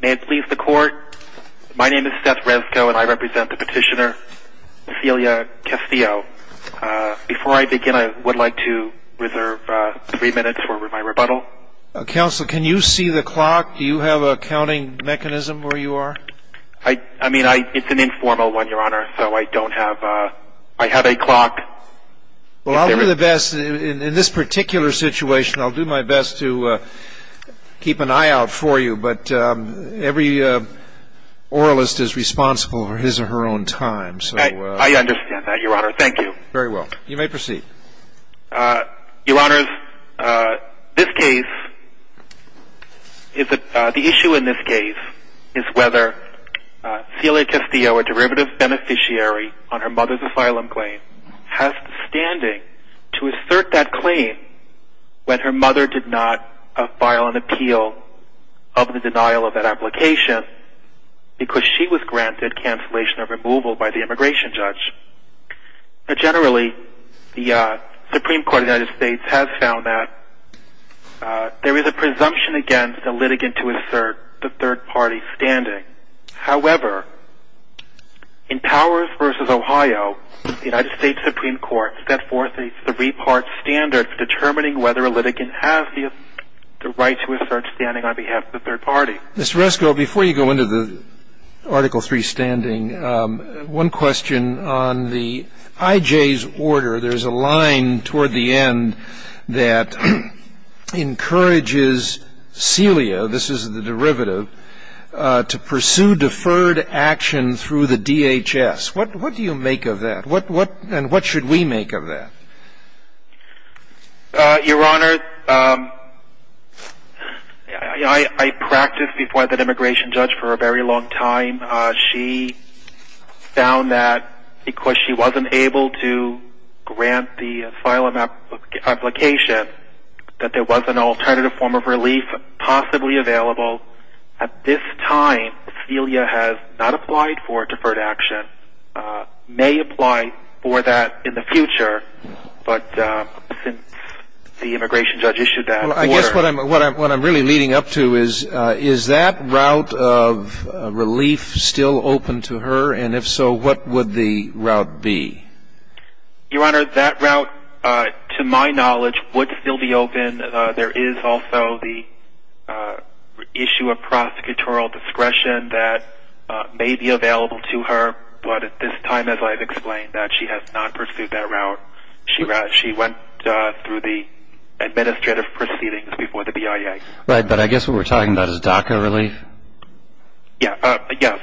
May it please the Court, my name is Seth Rezko and I represent the petitioner, Cecilia Castillo. Before I begin, I would like to reserve three minutes for my rebuttal. Counsel, can you see the clock? Do you have a counting mechanism where you are? I mean, it's an informal one, Your Honor, so I don't have – I have a clock. Well, I'll do the best – in this particular situation, I'll do my best to keep an eye out for you, but every oralist is responsible for his or her own time. I understand that, Your Honor. Thank you. Very well. You may proceed. Your Honors, this case – the issue in this case is whether Cecilia Castillo, a derivative beneficiary on her mother's asylum claim, has the standing to assert that claim when her mother did not file an appeal of the denial of that application because she was granted cancellation of removal by the immigration judge. Generally, the Supreme Court of the United States has found that there is a presumption against a litigant to assert the third party's standing. However, in Powers v. Ohio, the United States Supreme Court set forth a three-part standard for determining whether a litigant has the right to assert standing on behalf of the third party. Mr. Reskill, before you go into the Article III standing, one question on the IJ's order. There's a line toward the end that encourages Cecilia – this is the derivative – to pursue deferred action through the DHS. What do you make of that, and what should we make of that? Your Honor, I practiced before that immigration judge for a very long time. She found that because she wasn't able to grant the asylum application, that there was an alternative form of relief possibly available. At this time, Cecilia has not applied for deferred action. May apply for that in the future, but since the immigration judge issued that order… And if so, what would the route be? Your Honor, that route, to my knowledge, would still be open. There is also the issue of prosecutorial discretion that may be available to her, but at this time, as I've explained, she has not pursued that route. She went through the administrative proceedings before the BIA. Right, but I guess what we're talking about is DACA relief? Yes.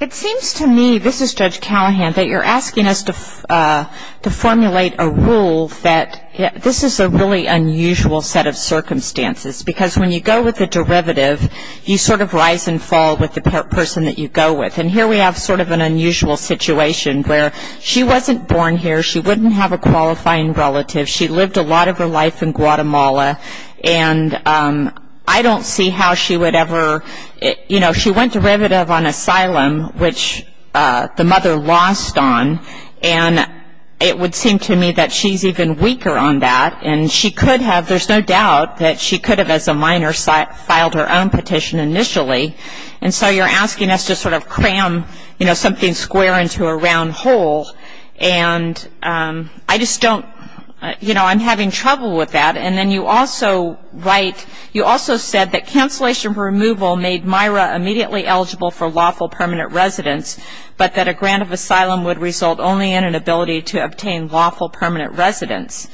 It seems to me – this is Judge Callahan – that you're asking us to formulate a rule that this is a really unusual set of circumstances, because when you go with the derivative, you sort of rise and fall with the person that you go with. And here we have sort of an unusual situation where she wasn't born here, she wouldn't have a qualifying relative, she lived a lot of her life in Guatemala, and I don't see how she would ever – you know, she went derivative on asylum, which the mother lost on, and it would seem to me that she's even weaker on that, and she could have – there's no doubt that she could have, as a minor, filed her own petition initially. And so you're asking us to sort of cram, you know, something square into a round hole, and I just don't – you know, I'm having trouble with that. And then you also write – you also said that cancellation for removal made Myra immediately eligible for lawful permanent residence, but that a grant of asylum would result only in an ability to obtain lawful permanent residence.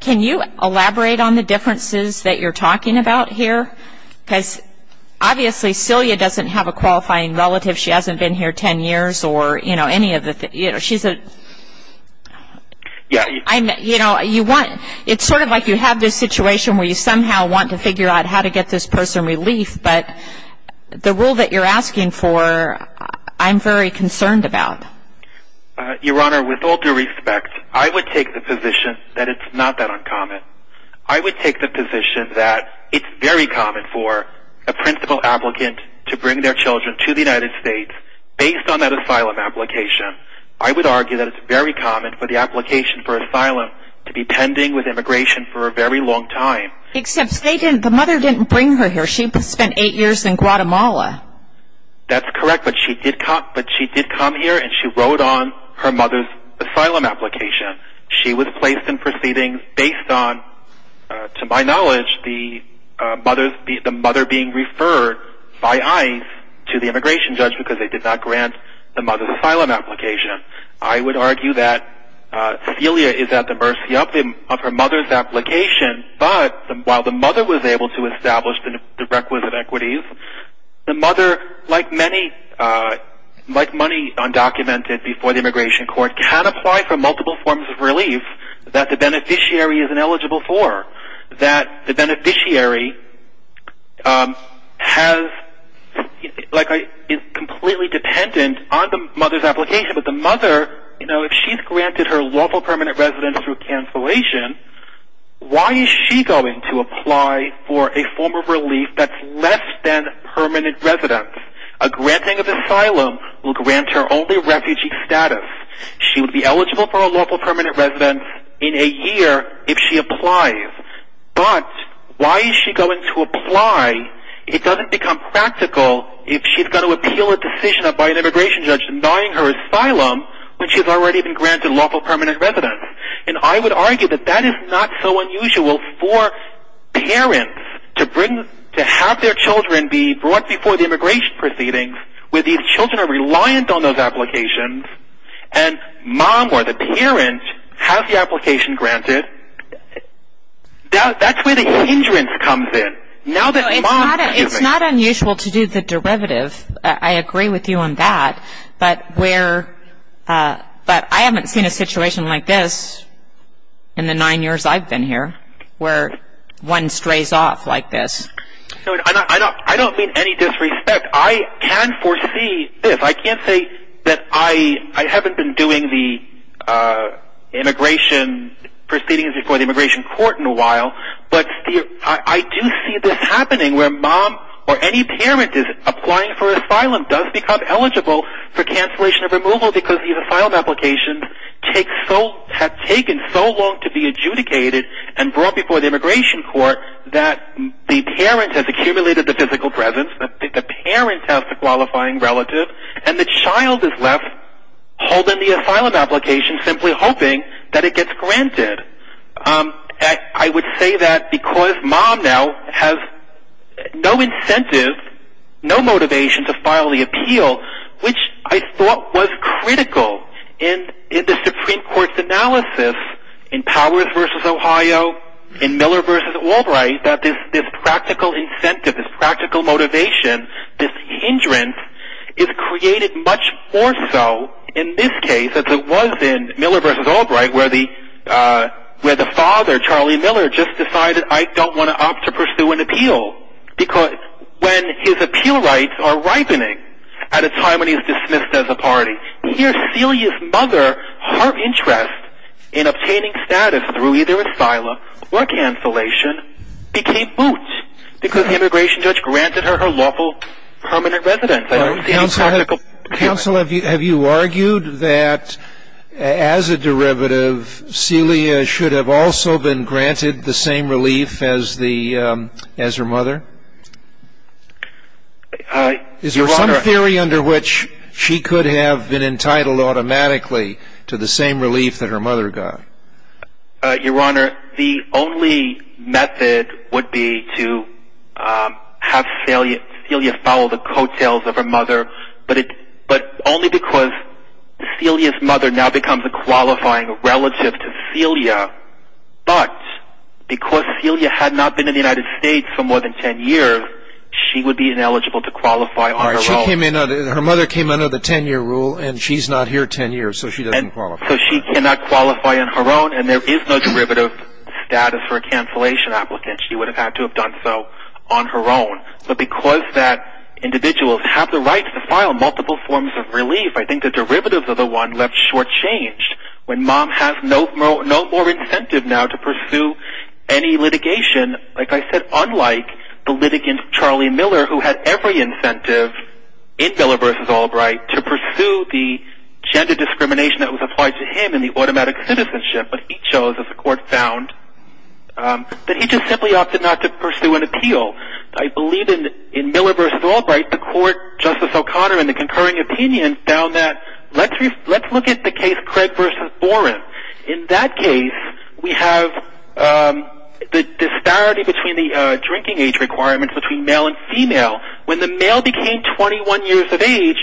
Can you elaborate on the differences that you're talking about here? Because obviously Celia doesn't have a qualifying relative, she hasn't been here 10 years, or, you know, any of the – you know, she's a – you know, you want – it's sort of like you have this situation where you somehow want to figure out how to get this person relief, but the rule that you're asking for, I'm very concerned about. Your Honor, with all due respect, I would take the position that it's not that uncommon. I would take the position that it's very common for a principal applicant to bring their children to the United States based on that asylum application. I would argue that it's very common for the application for asylum to be pending with immigration for a very long time. Except they didn't – the mother didn't bring her here. She spent eight years in Guatemala. That's correct, but she did come here and she wrote on her mother's asylum application. She was placed in proceedings based on, to my knowledge, the mother being referred by ICE to the immigration judge because they did not grant the mother's asylum application. I would argue that Celia is at the mercy of her mother's application, but while the mother was able to establish the requisite equities, the mother, like many – like money undocumented before the immigration court, can apply for multiple forms of relief that the beneficiary isn't eligible for, that the beneficiary has – like is completely dependent on the mother's application. But the mother, you know, if she's granted her lawful permanent residence through cancellation, why is she going to apply for a form of relief that's less than permanent residence? A granting of asylum will grant her only refugee status. She would be eligible for a lawful permanent residence in a year if she applies. But why is she going to apply? It doesn't become practical if she's going to appeal a decision by an immigration judge denying her asylum when she's already been granted lawful permanent residence. And I would argue that that is not so unusual for parents to bring – to have their children be brought before the immigration proceedings where these children are reliant on those applications and mom or the parent has the application granted. That's where the hindrance comes in. Now that mom – It's not unusual to do the derivative. I agree with you on that. But where – but I haven't seen a situation like this in the nine years I've been here where one strays off like this. I don't mean any disrespect. I can foresee this. I can't say that I haven't been doing the immigration proceedings before the immigration court in a while. But I do see this happening where mom or any parent is applying for asylum, does become eligible for cancellation of removal because these asylum applications have taken so long to be adjudicated and brought before the immigration court that the parent has accumulated the physical presence. The parent has the qualifying relative. And the child is left holding the asylum application simply hoping that it gets granted. I would say that because mom now has no incentive, no motivation to file the appeal, which I thought was critical in the Supreme Court's analysis in Powers v. Ohio, in Miller v. Albright, that this practical incentive, this practical motivation, this hindrance is created much more so in this case as it was in Miller v. Albright where the father, Charlie Miller, just decided, I don't want to opt to pursue an appeal when his appeal rights are ripening at a time when he's dismissed as a party. Here Celia's mother, her interest in obtaining status through either asylum or cancellation became moot because the immigration judge granted her her lawful permanent residence. Counsel, have you argued that as a derivative, Celia should have also been granted the same relief as her mother? Is there some theory under which she could have been entitled automatically to the same relief that her mother got? Your Honor, the only method would be to have Celia follow the coattails of her mother, but only because Celia's mother now becomes a qualifying relative to Celia, but because Celia had not been in the United States for more than 10 years, she would be ineligible to qualify on her own. Her mother came under the 10-year rule, and she's not here 10 years, so she doesn't qualify. So she cannot qualify on her own, and there is no derivative status for a cancellation applicant. She would have had to have done so on her own, but because individuals have the right to file multiple forms of relief, I think the derivatives of the one left shortchanged. When mom has no more incentive now to pursue any litigation, like I said, unlike the litigant Charlie Miller, who had every incentive in Miller v. Albright to pursue the gender discrimination that was applied to him and the automatic citizenship that he chose, as the Court found, that he just simply opted not to pursue an appeal. I believe in Miller v. Albright, the Court, Justice O'Connor, in the concurring opinion, found that, let's look at the case Craig v. Boren. In that case, we have the disparity between the drinking age requirements between male and female. When the male became 21 years of age,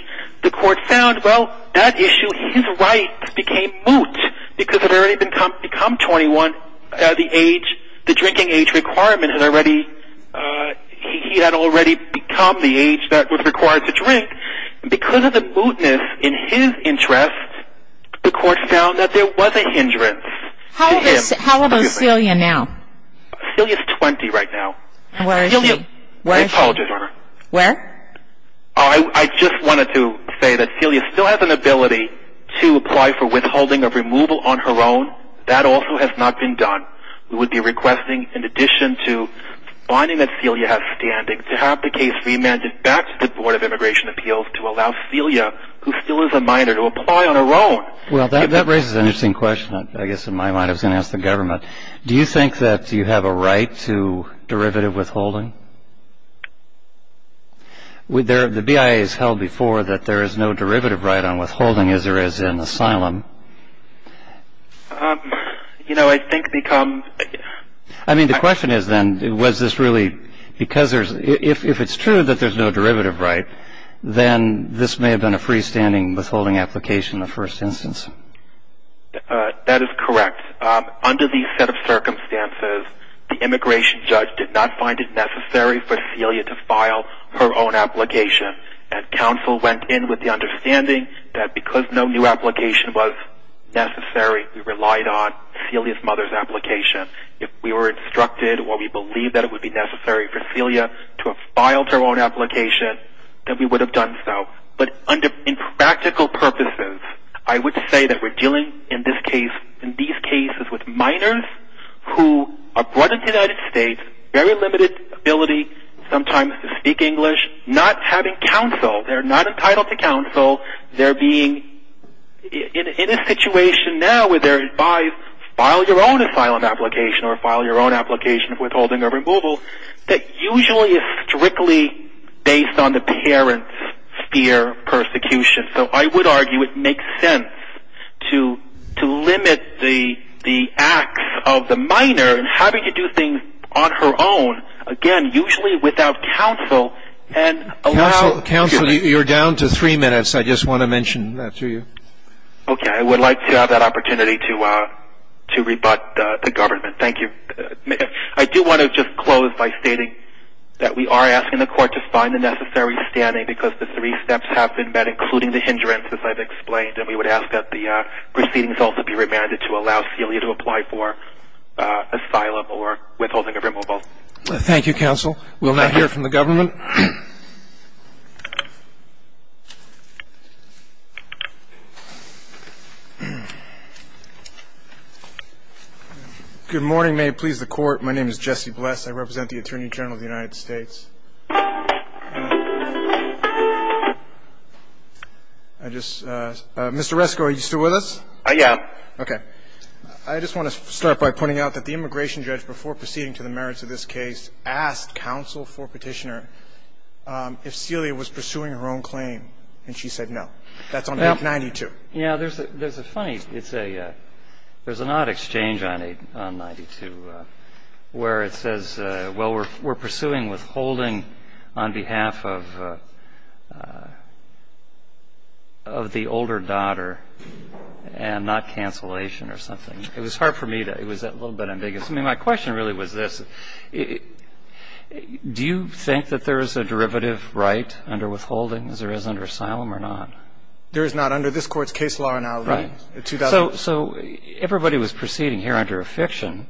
the Court found, well, that issue, he's right, became moot, because it had already become 21, the age, the drinking age requirement had already, he had already become the age that was required to drink. Because of the mootness in his interest, the Court found that there was a hindrance. How old is Celia now? Celia's 20 right now. Where is she? I apologize, Your Honor. Where? I just wanted to say that Celia still has an ability to apply for withholding of removal on her own. That also has not been done. We would be requesting, in addition to finding that Celia has standing, to have the case remanded back to the Board of Immigration Appeals to allow Celia, who still is a minor, to apply on her own. Well, that raises an interesting question, I guess, in my mind. I was going to ask the government. Do you think that you have a right to derivative withholding? The BIA has held before that there is no derivative right on withholding, as there is in asylum. You know, I think it becomes… I mean, the question is, then, was this really because there's – if it's true that there's no derivative right, then this may have been a freestanding withholding application in the first instance. That is correct. Under these set of circumstances, the immigration judge did not find it necessary for Celia to file her own application. And counsel went in with the understanding that because no new application was necessary, we relied on Celia's mother's application. If we were instructed or we believed that it would be necessary for Celia to have filed her own application, then we would have done so. But in practical purposes, I would say that we're dealing in these cases with minors who are brought into the United States, very limited ability sometimes to speak English, not having counsel. They're not entitled to counsel. They're being – in a situation now where they're advised, file your own asylum application or file your own application of withholding or removal, that usually is strictly based on the parent's fear, persecution. So I would argue it makes sense to limit the acts of the minor in having to do things on her own, Counsel, you're down to three minutes. I just want to mention that to you. Okay. I would like to have that opportunity to rebut the government. Thank you. I do want to just close by stating that we are asking the court to find the necessary standing because the three steps have been met, including the hindrance, as I've explained. And we would ask that the proceedings also be remanded to allow Celia to apply for asylum or withholding or removal. Thank you, counsel. We'll now hear from the government. Good morning. May it please the Court. My name is Jesse Bless. I represent the Attorney General of the United States. I just – Mr. Resco, are you still with us? I am. Okay. I just want to start by pointing out that the immigration judge, before proceeding to the merits of this case, asked counsel for Petitioner if Celia was pursuing her own claim, and she said no. That's on page 92. Yeah. There's a funny – it's a – there's an odd exchange on 92 where it says, well, we're pursuing withholding on behalf of the older daughter and not cancellation or something. It was hard for me to – it was a little bit ambiguous. I mean, my question really was this. Do you think that there is a derivative right under withholding as there is under asylum or not? There is not under this Court's case law now. Right. So everybody was proceeding here under affection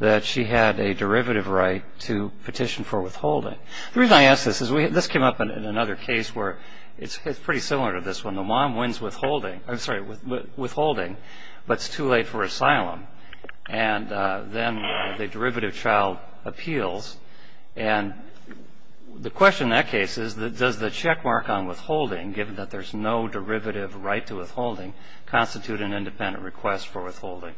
that she had a derivative right to petition for withholding. The reason I ask this is we – this came up in another case where it's pretty similar to this one. withholding, but it's too late for asylum. And then the derivative child appeals. And the question in that case is, does the checkmark on withholding, given that there's no derivative right to withholding, constitute an independent request for withholding?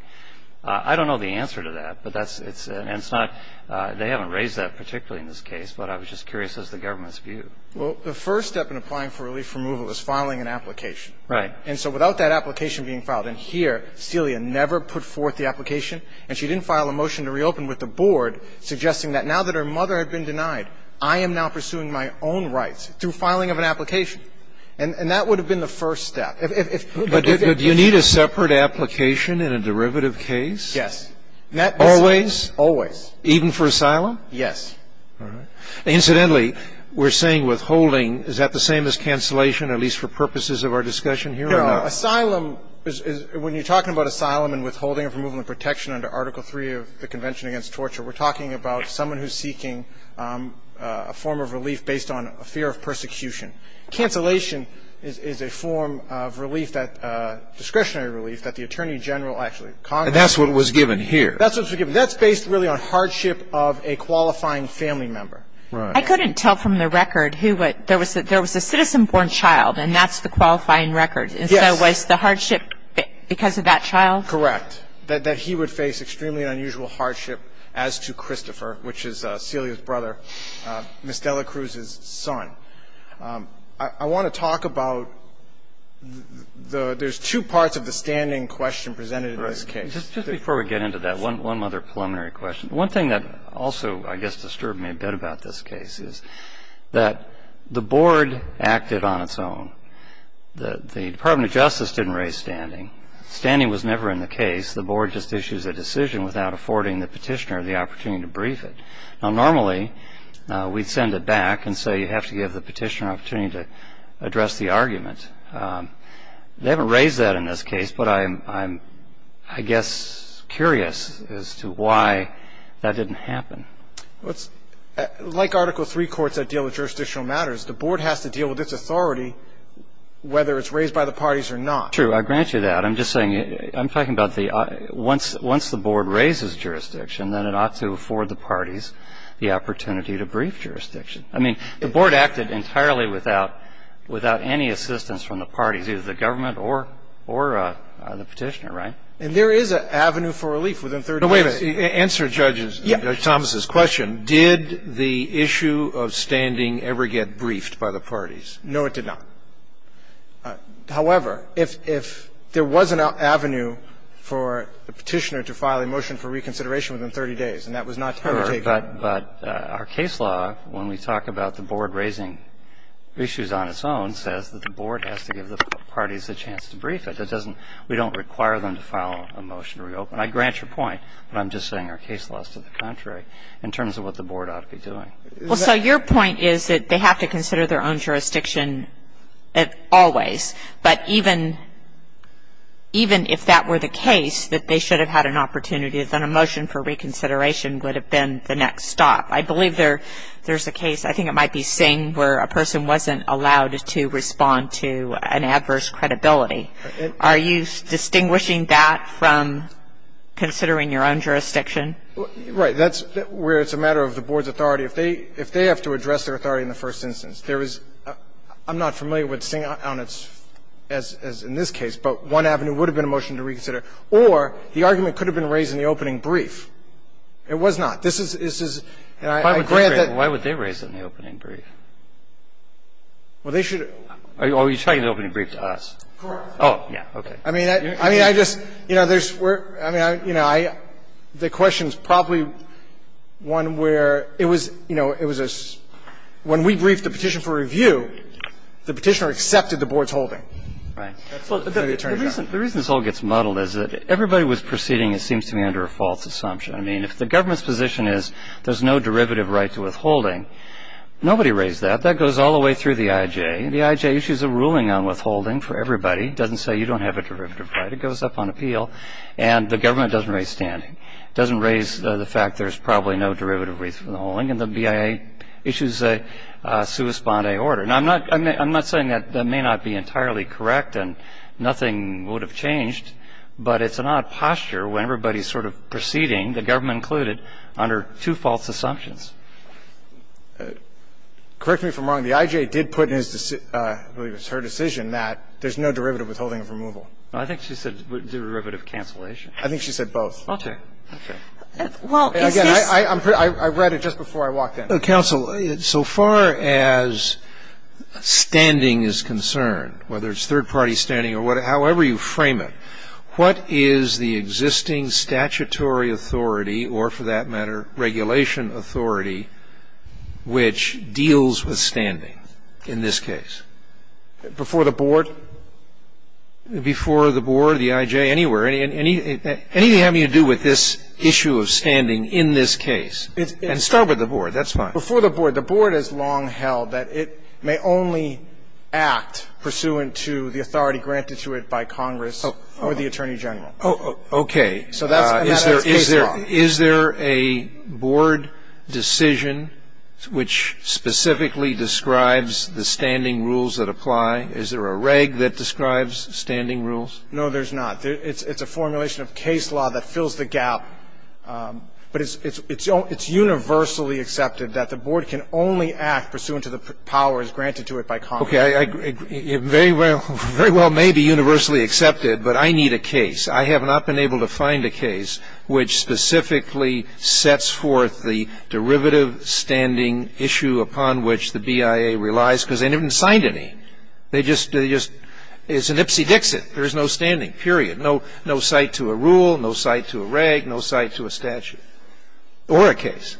I don't know the answer to that, but that's – it's – and it's not – they haven't raised that particularly in this case, but I was just curious as to the government's view. Well, the first step in applying for relief removal is filing an application. Right. And so without that application being filed – and here, Celia never put forth the application, and she didn't file a motion to reopen with the board suggesting that now that her mother had been denied, I am now pursuing my own rights through filing of an application. And that would have been the first step. But do you need a separate application in a derivative case? Yes. Always? Always. Even for asylum? Yes. All right. Incidentally, we're saying withholding. Is that the same as cancellation, at least for purposes of our discussion here or not? No. Asylum is – when you're talking about asylum and withholding of removal and protection under Article III of the Convention Against Torture, we're talking about someone who's seeking a form of relief based on a fear of persecution. Cancellation is a form of relief that – discretionary relief that the attorney general actually – And that's what was given here. That's what was given. That's based really on hardship of a qualifying family member. Right. I couldn't tell from the record who – there was a citizen-born child, and that's the qualifying record. Yes. And so was the hardship because of that child? Correct. That he would face extremely unusual hardship as to Christopher, which is Celia's brother, Ms. Dela Cruz's son. I want to talk about the – there's two parts of the standing question presented in this case. Just before we get into that, one other preliminary question. One thing that also, I guess, disturbed me a bit about this case is that the board acted on its own. The Department of Justice didn't raise standing. Standing was never in the case. The board just issues a decision without affording the petitioner the opportunity to brief it. Now, normally, we'd send it back and say you have to give the petitioner an opportunity to address the argument. They haven't raised that in this case, but I'm, I guess, curious as to why that didn't happen. Like Article III courts that deal with jurisdictional matters, the board has to deal with its authority whether it's raised by the parties or not. True. I'll grant you that. I'm just saying – I'm talking about the – once the board raises jurisdiction, then it ought to afford the parties the opportunity to brief jurisdiction. I mean, the board acted entirely without, without any assistance from the parties, either the government or, or the petitioner, right? And there is an avenue for relief within 30 days. Wait a minute. Answer Judge Thomas's question. Did the issue of standing ever get briefed by the parties? No, it did not. However, if there was an avenue for the petitioner to file a motion for reconsideration within 30 days, and that was not taken. Sure. But our case law, when we talk about the board raising issues on its own, says that the board has to give the parties a chance to brief it. That doesn't – we don't require them to file a motion to reopen. I grant your point, but I'm just saying our case law is to the contrary in terms of what the board ought to be doing. Well, so your point is that they have to consider their own jurisdiction always. But even, even if that were the case, that they should have had an opportunity, then a motion for reconsideration would have been the next stop. I believe there's a case, I think it might be Singh, where a person wasn't allowed to respond to an adverse credibility. Are you distinguishing that from considering your own jurisdiction? Right. That's where it's a matter of the board's authority. If they have to address their authority in the first instance, there is – I'm not familiar with Singh on its – as in this case, but one avenue would have been a motion to reconsider. Or the argument could have been raised in the opening brief. It was not. This is, this is – Why would they raise it in the opening brief? Well, they should have – Are you talking about the opening brief to us? Of course. Oh, yeah, okay. I mean, I just – you know, there's – I mean, you know, I – the question is probably one where it was, you know, it was a – when we briefed the petition for review, the petitioner accepted the board's holding. Right. The reason this all gets muddled is that everybody was proceeding, it seems to me, under a false assumption. I mean, if the government's position is there's no derivative right to withholding, nobody raised that. That goes all the way through the IJ. The IJ issues a ruling on withholding for everybody. It doesn't say you don't have a derivative right. It goes up on appeal. And the government doesn't raise standing. It doesn't raise the fact there's probably no derivative right to withholding. And the BIA issues a sua sponde order. And I'm not – I'm not saying that that may not be entirely correct and nothing would have changed. But it's an odd posture when everybody's sort of proceeding, the government included, under two false assumptions. Correct me if I'm wrong. The IJ did put in his – I believe it was her decision that there's no derivative withholding of removal. I think she said derivative cancellation. I think she said both. Okay. Okay. Well, is this – Again, I read it just before I walked in. Counsel, so far as standing is concerned, whether it's third-party standing or whatever, however you frame it, what is the existing statutory authority or, for that matter, regulation authority which deals with standing in this case? Before the board? Before the board, the IJ, anywhere? Anything having to do with this issue of standing in this case? And start with the board. That's fine. Before the board. The board has long held that it may only act pursuant to the authority granted to it by Congress or the Attorney General. Okay. So that's case law. Is there a board decision which specifically describes the standing rules that apply? Is there a reg that describes standing rules? No, there's not. It's a formulation of case law that fills the gap. But it's universally accepted that the board can only act pursuant to the powers granted to it by Congress. Okay. It very well may be universally accepted, but I need a case. I have not been able to find a case which specifically sets forth the derivative standing issue upon which the BIA relies because they haven't signed any. They just – it's an ipsy-dixit. There is no standing, period. No site to a rule, no site to a reg, no site to a statute or a case.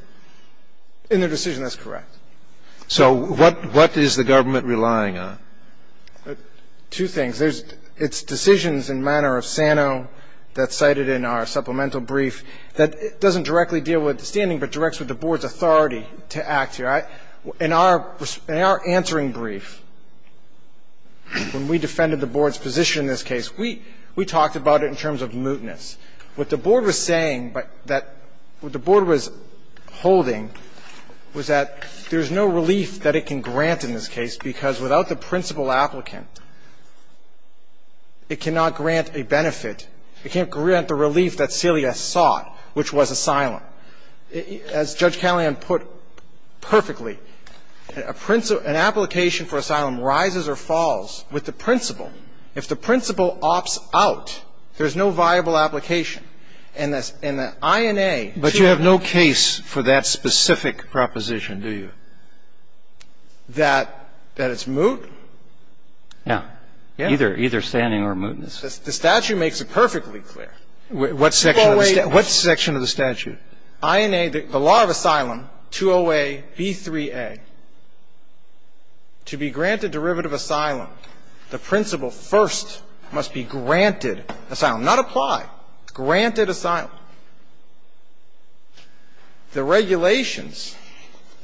In their decision, that's correct. So what is the government relying on? Two things. There's – it's decisions in manner of SANO that's cited in our supplemental brief that doesn't directly deal with the standing but directs with the board's authority to act. In our answering brief, when we defended the board's position in this case, we talked about it in terms of mootness. What the board was saying that – what the board was holding was that there's no relief that it can grant in this case because without the principal applicant, it cannot grant a benefit. It can't grant the relief that Celia sought, which was asylum. As Judge Callahan put perfectly, a principle – an application for asylum rises or falls with the principal. If the principal opts out, there's no viable application. And the – and the INA, too – But you have no case for that specific proposition, do you? That – that it's moot? Yeah. Yeah. Either standing or mootness. The statute makes it perfectly clear. What section of the statute? INA, the law of asylum, 20A, B3A. To be granted derivative asylum, the principal first must be granted asylum. Not apply. Granted asylum. The regulations.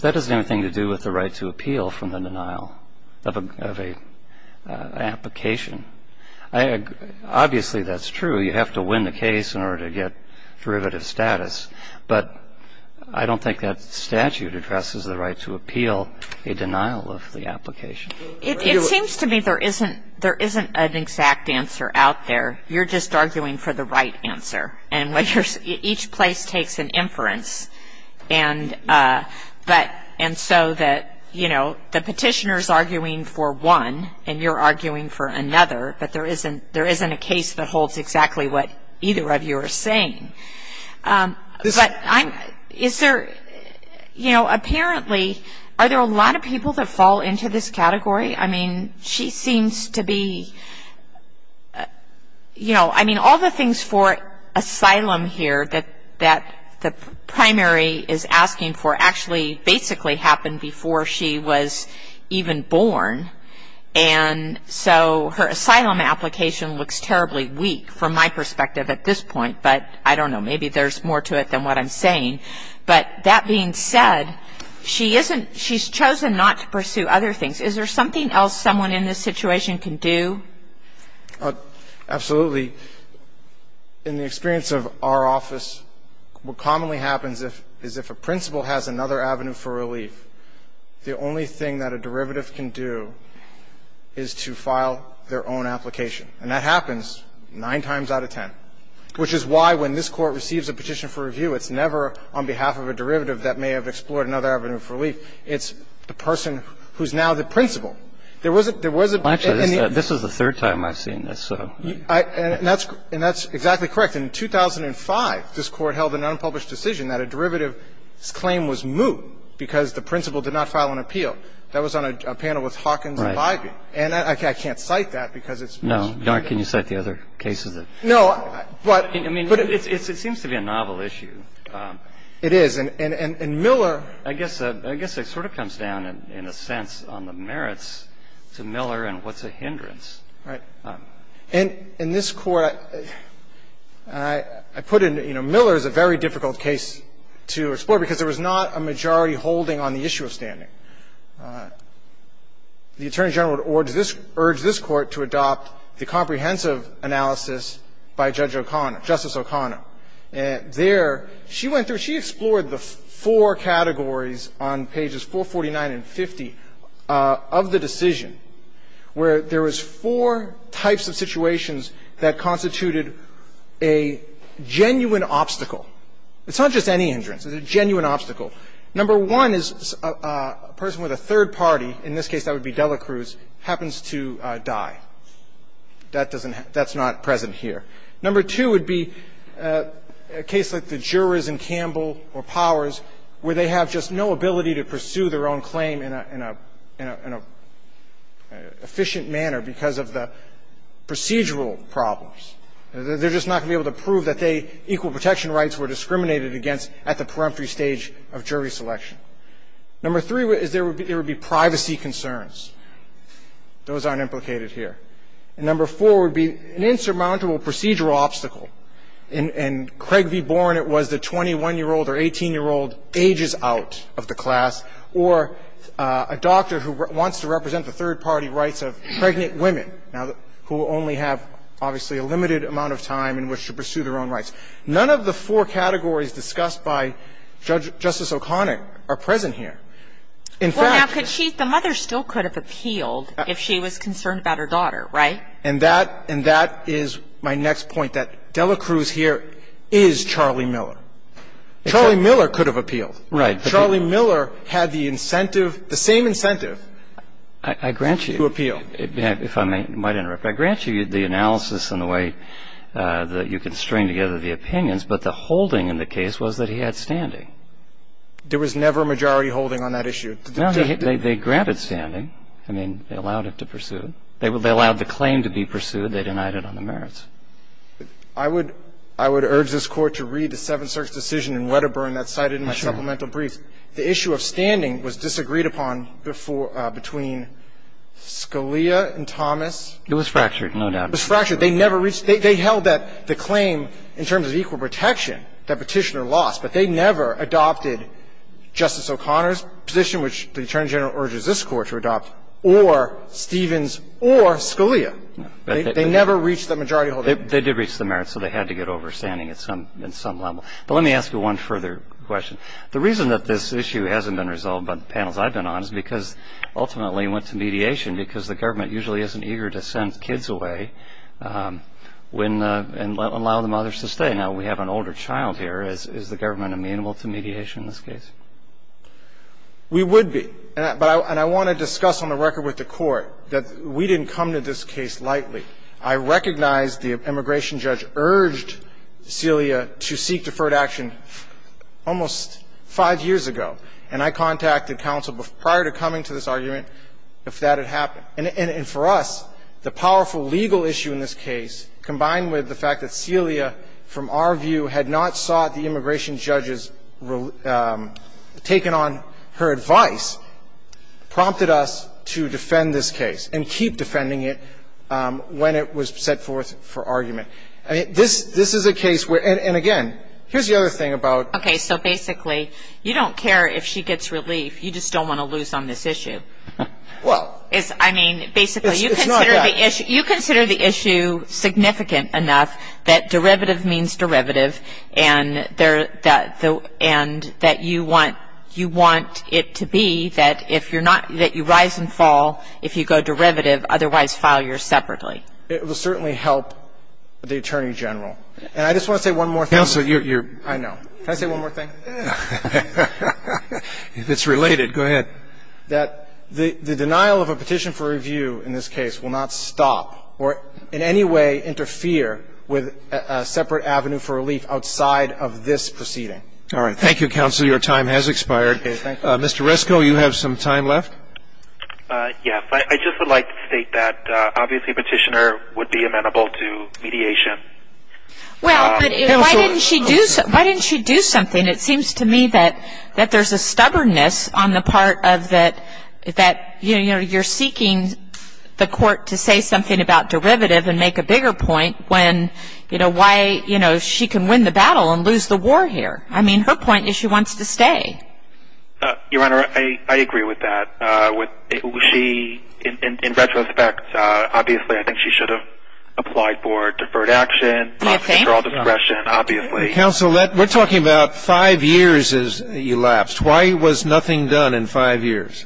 That has nothing to do with the right to appeal from the denial of a – of an application. I – obviously, that's true. You have to win the case in order to get derivative status. But I don't think that statute addresses the right to appeal a denial of the application. It seems to me there isn't – there isn't an exact answer out there. You're just arguing for the right answer. And each place takes an inference. And so that, you know, the petitioner's arguing for one and you're arguing for another, but there isn't – there isn't a case that holds exactly what either of you are saying. But I'm – is there – you know, apparently, are there a lot of people that fall into this category? I mean, she seems to be – you know, I mean, all the things for asylum here that – that the primary is asking for actually basically happened before she was even born. And so her asylum application looks terribly weak from my perspective at this point. But I don't know. Maybe there's more to it than what I'm saying. But that being said, she isn't – she's chosen not to pursue other things. Is there something else someone in this situation can do? Absolutely. In the experience of our office, what commonly happens is if a principal has another avenue for relief, the only thing that a derivative can do is to file their own application. And that happens nine times out of ten, which is why when this Court receives a petition for review, it's never on behalf of a derivative that may have explored another avenue for relief. It's the person who's now the principal. There was a – there was a – Well, actually, this is the third time I've seen this, so. And that's – and that's exactly correct. In 2005, this Court held an unpublished decision that a derivative's claim was moot because the principal did not file an appeal. That was on a panel with Hawkins and Bybee. Right. And I can't cite that because it's – No. Can you cite the other cases? No, but – I mean, it seems to be a novel issue. It is. And Miller – I guess it sort of comes down in a sense on the merits to Miller and what's a hindrance. Right. In this Court, I put in, you know, Miller is a very difficult case to explore because there was not a majority holding on the issue of standing. The Attorney General would urge this – urge this Court to adopt the comprehensive analysis by Judge O'Connor – Justice O'Connor. There, she went through – she explored the four categories on pages 449 and 50 of the decision where there was four types of situations that constituted a genuine obstacle. It's not just any hindrance. It's a genuine obstacle. Number one is a person with a third party, in this case that would be Dela Cruz, happens to die. That doesn't – that's not present here. Number two would be a case like the jurors in Campbell or Powers where they have just no ability to pursue their own claim in a – in a – in a efficient manner because of the procedural problems. They're just not going to be able to prove that they – equal protection rights were discriminated against at the preemptory stage of jury selection. Number three is there would be – there would be privacy concerns. Those aren't implicated here. And number four would be an insurmountable procedural obstacle. In – in Craig v. Bourne, it was the 21-year-old or 18-year-old ages out of the class, or a doctor who wants to represent the third party rights of pregnant women, now, who only have obviously a limited amount of time in which to pursue their own rights. None of the four categories discussed by Judge – Justice O'Connick are present here. In fact – Well, now, could she – the mother still could have appealed if she was concerned about her daughter, right? And that – and that is my next point, that Dela Cruz here is Charlie Miller. Charlie Miller could have appealed. Right. Charlie Miller had the incentive – the same incentive to appeal. I grant you – if I may – might interrupt. I grant you the analysis and the way that you can string together the opinions, but the holding in the case was that he had standing. There was never a majority holding on that issue. No, they – they granted standing. I mean, they allowed it to pursue. They allowed the claim to be pursued. They denied it on the merits. I would – I would urge this Court to read the Seventh Circuit's decision in Wedderburn that's cited in my supplemental brief. The issue of standing was disagreed upon before – between Scalia and Thomas. It was fractured, no doubt. It was fractured. They never reached – they held that the claim in terms of equal protection, that Petitioner lost, but they never adopted Justice O'Connor's position, which the Attorney General urges this Court to adopt, or Stevens or Scalia. No. They never reached the majority holding. They did reach the merits, so they had to get overstanding at some – in some level. But let me ask you one further question. The reason that this issue hasn't been resolved by the panels I've been on is because ultimately went to mediation because the government usually isn't eager to send kids away when – and allow the mothers to stay. Now, we have an older child here. Is the government amenable to mediation in this case? We would be. And I want to discuss on the record with the Court that we didn't come to this case lightly. I recognize the immigration judge urged Scalia to seek deferred action almost five years ago. And I contacted counsel prior to coming to this argument if that had happened. And for us, the powerful legal issue in this case, combined with the fact that Scalia, from our view, had not sought the immigration judge's – taken on her advice, prompted us to defend this case and keep defending it when it was set forth for argument. This is a case where – and again, here's the other thing about – if she gets relief, you just don't want to lose on this issue. Well – I mean, basically – It's not that. You consider the issue significant enough that derivative means derivative and that you want it to be that if you're not – that you rise and fall if you go derivative, otherwise file yours separately. It will certainly help the Attorney General. And I just want to say one more thing. Counsel, you're – I know. Can I say one more thing? If it's related, go ahead. That the denial of a petition for review in this case will not stop or in any way interfere with a separate avenue for relief outside of this proceeding. All right. Thank you, counsel. Your time has expired. Okay. Thank you. Mr. Resko, you have some time left. Yes. I just would like to state that obviously Petitioner would be amenable to mediation. Well, but why didn't she do – why didn't she do something? I mean, it seems to me that there's a stubbornness on the part of that – that you're seeking the court to say something about derivative and make a bigger point when, you know, why she can win the battle and lose the war here. I mean, her point is she wants to stay. Your Honor, I agree with that. She, in retrospect, obviously I think she should have applied for deferred action. Do you think? Control discretion, obviously. Counsel, we're talking about five years has elapsed. Why was nothing done in five years?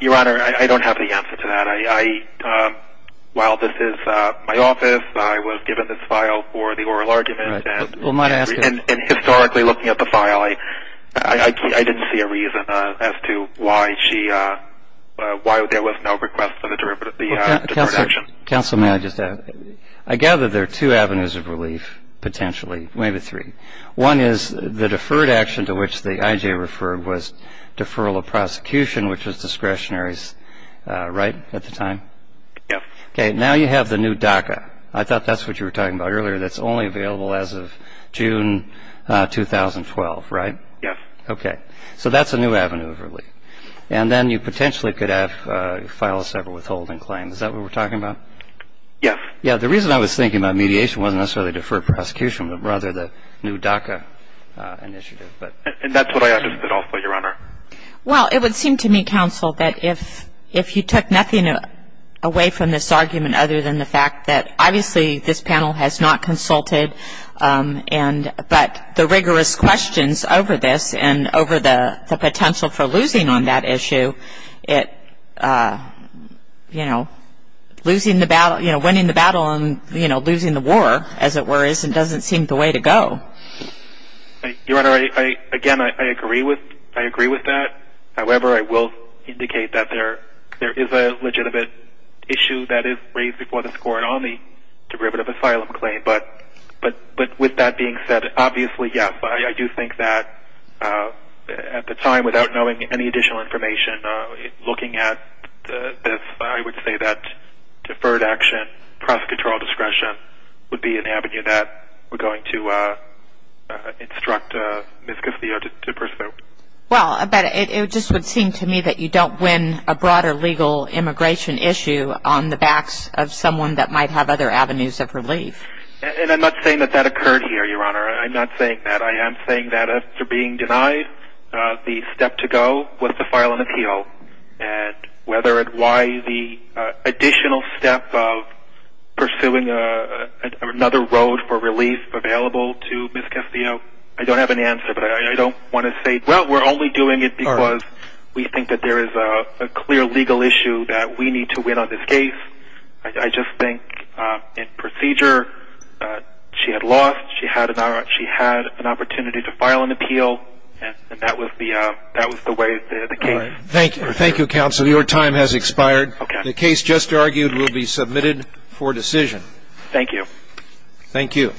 Your Honor, I don't have the answer to that. While this is my office, I was given this file for the oral argument. And historically looking at the file, I didn't see a reason as to why she – why there was no request for the deferred action. Counsel, may I just add? I gather there are two avenues of relief, potentially, maybe three. One is the deferred action to which the IJ referred was deferral of prosecution, which was discretionary, right, at the time? Yes. Okay. Now you have the new DACA. I thought that's what you were talking about earlier. That's only available as of June 2012, right? Yes. Okay. So that's a new avenue of relief. And then you potentially could have a file of several withholding claims. Is that what we're talking about? Yes. Yeah, the reason I was thinking about mediation wasn't necessarily deferred prosecution, but rather the new DACA initiative. And that's what I understood also, Your Honor. Well, it would seem to me, Counsel, that if you took nothing away from this argument other than the fact that obviously this panel has not consulted, but the rigorous questions over this and over the potential for losing on that issue, you know, winning the battle and losing the war, as it were, doesn't seem the way to go. Your Honor, again, I agree with that. However, I will indicate that there is a legitimate issue that is raised before the Court on the derivative asylum claim. But with that being said, obviously, yes, I do think that at the time, without knowing any additional information, looking at this, I would say that deferred action, prosecutorial discretion, would be an avenue that we're going to instruct Ms. Castillo to pursue. Well, but it just would seem to me that you don't win a broader legal immigration issue on the backs of someone that might have other avenues of relief. And I'm not saying that that occurred here, Your Honor. I'm not saying that. I am saying that after being denied, the step to go was to file an appeal. And whether it was the additional step of pursuing another road for relief available to Ms. Castillo, I don't have an answer. But I don't want to say, well, we're only doing it because we think that there is a clear legal issue that we need to win on this case. I just think in procedure, she had lost. She had an opportunity to file an appeal. And that was the way the case was. Thank you. Thank you, counsel. Your time has expired. The case just argued will be submitted for decision. Thank you. Thank you.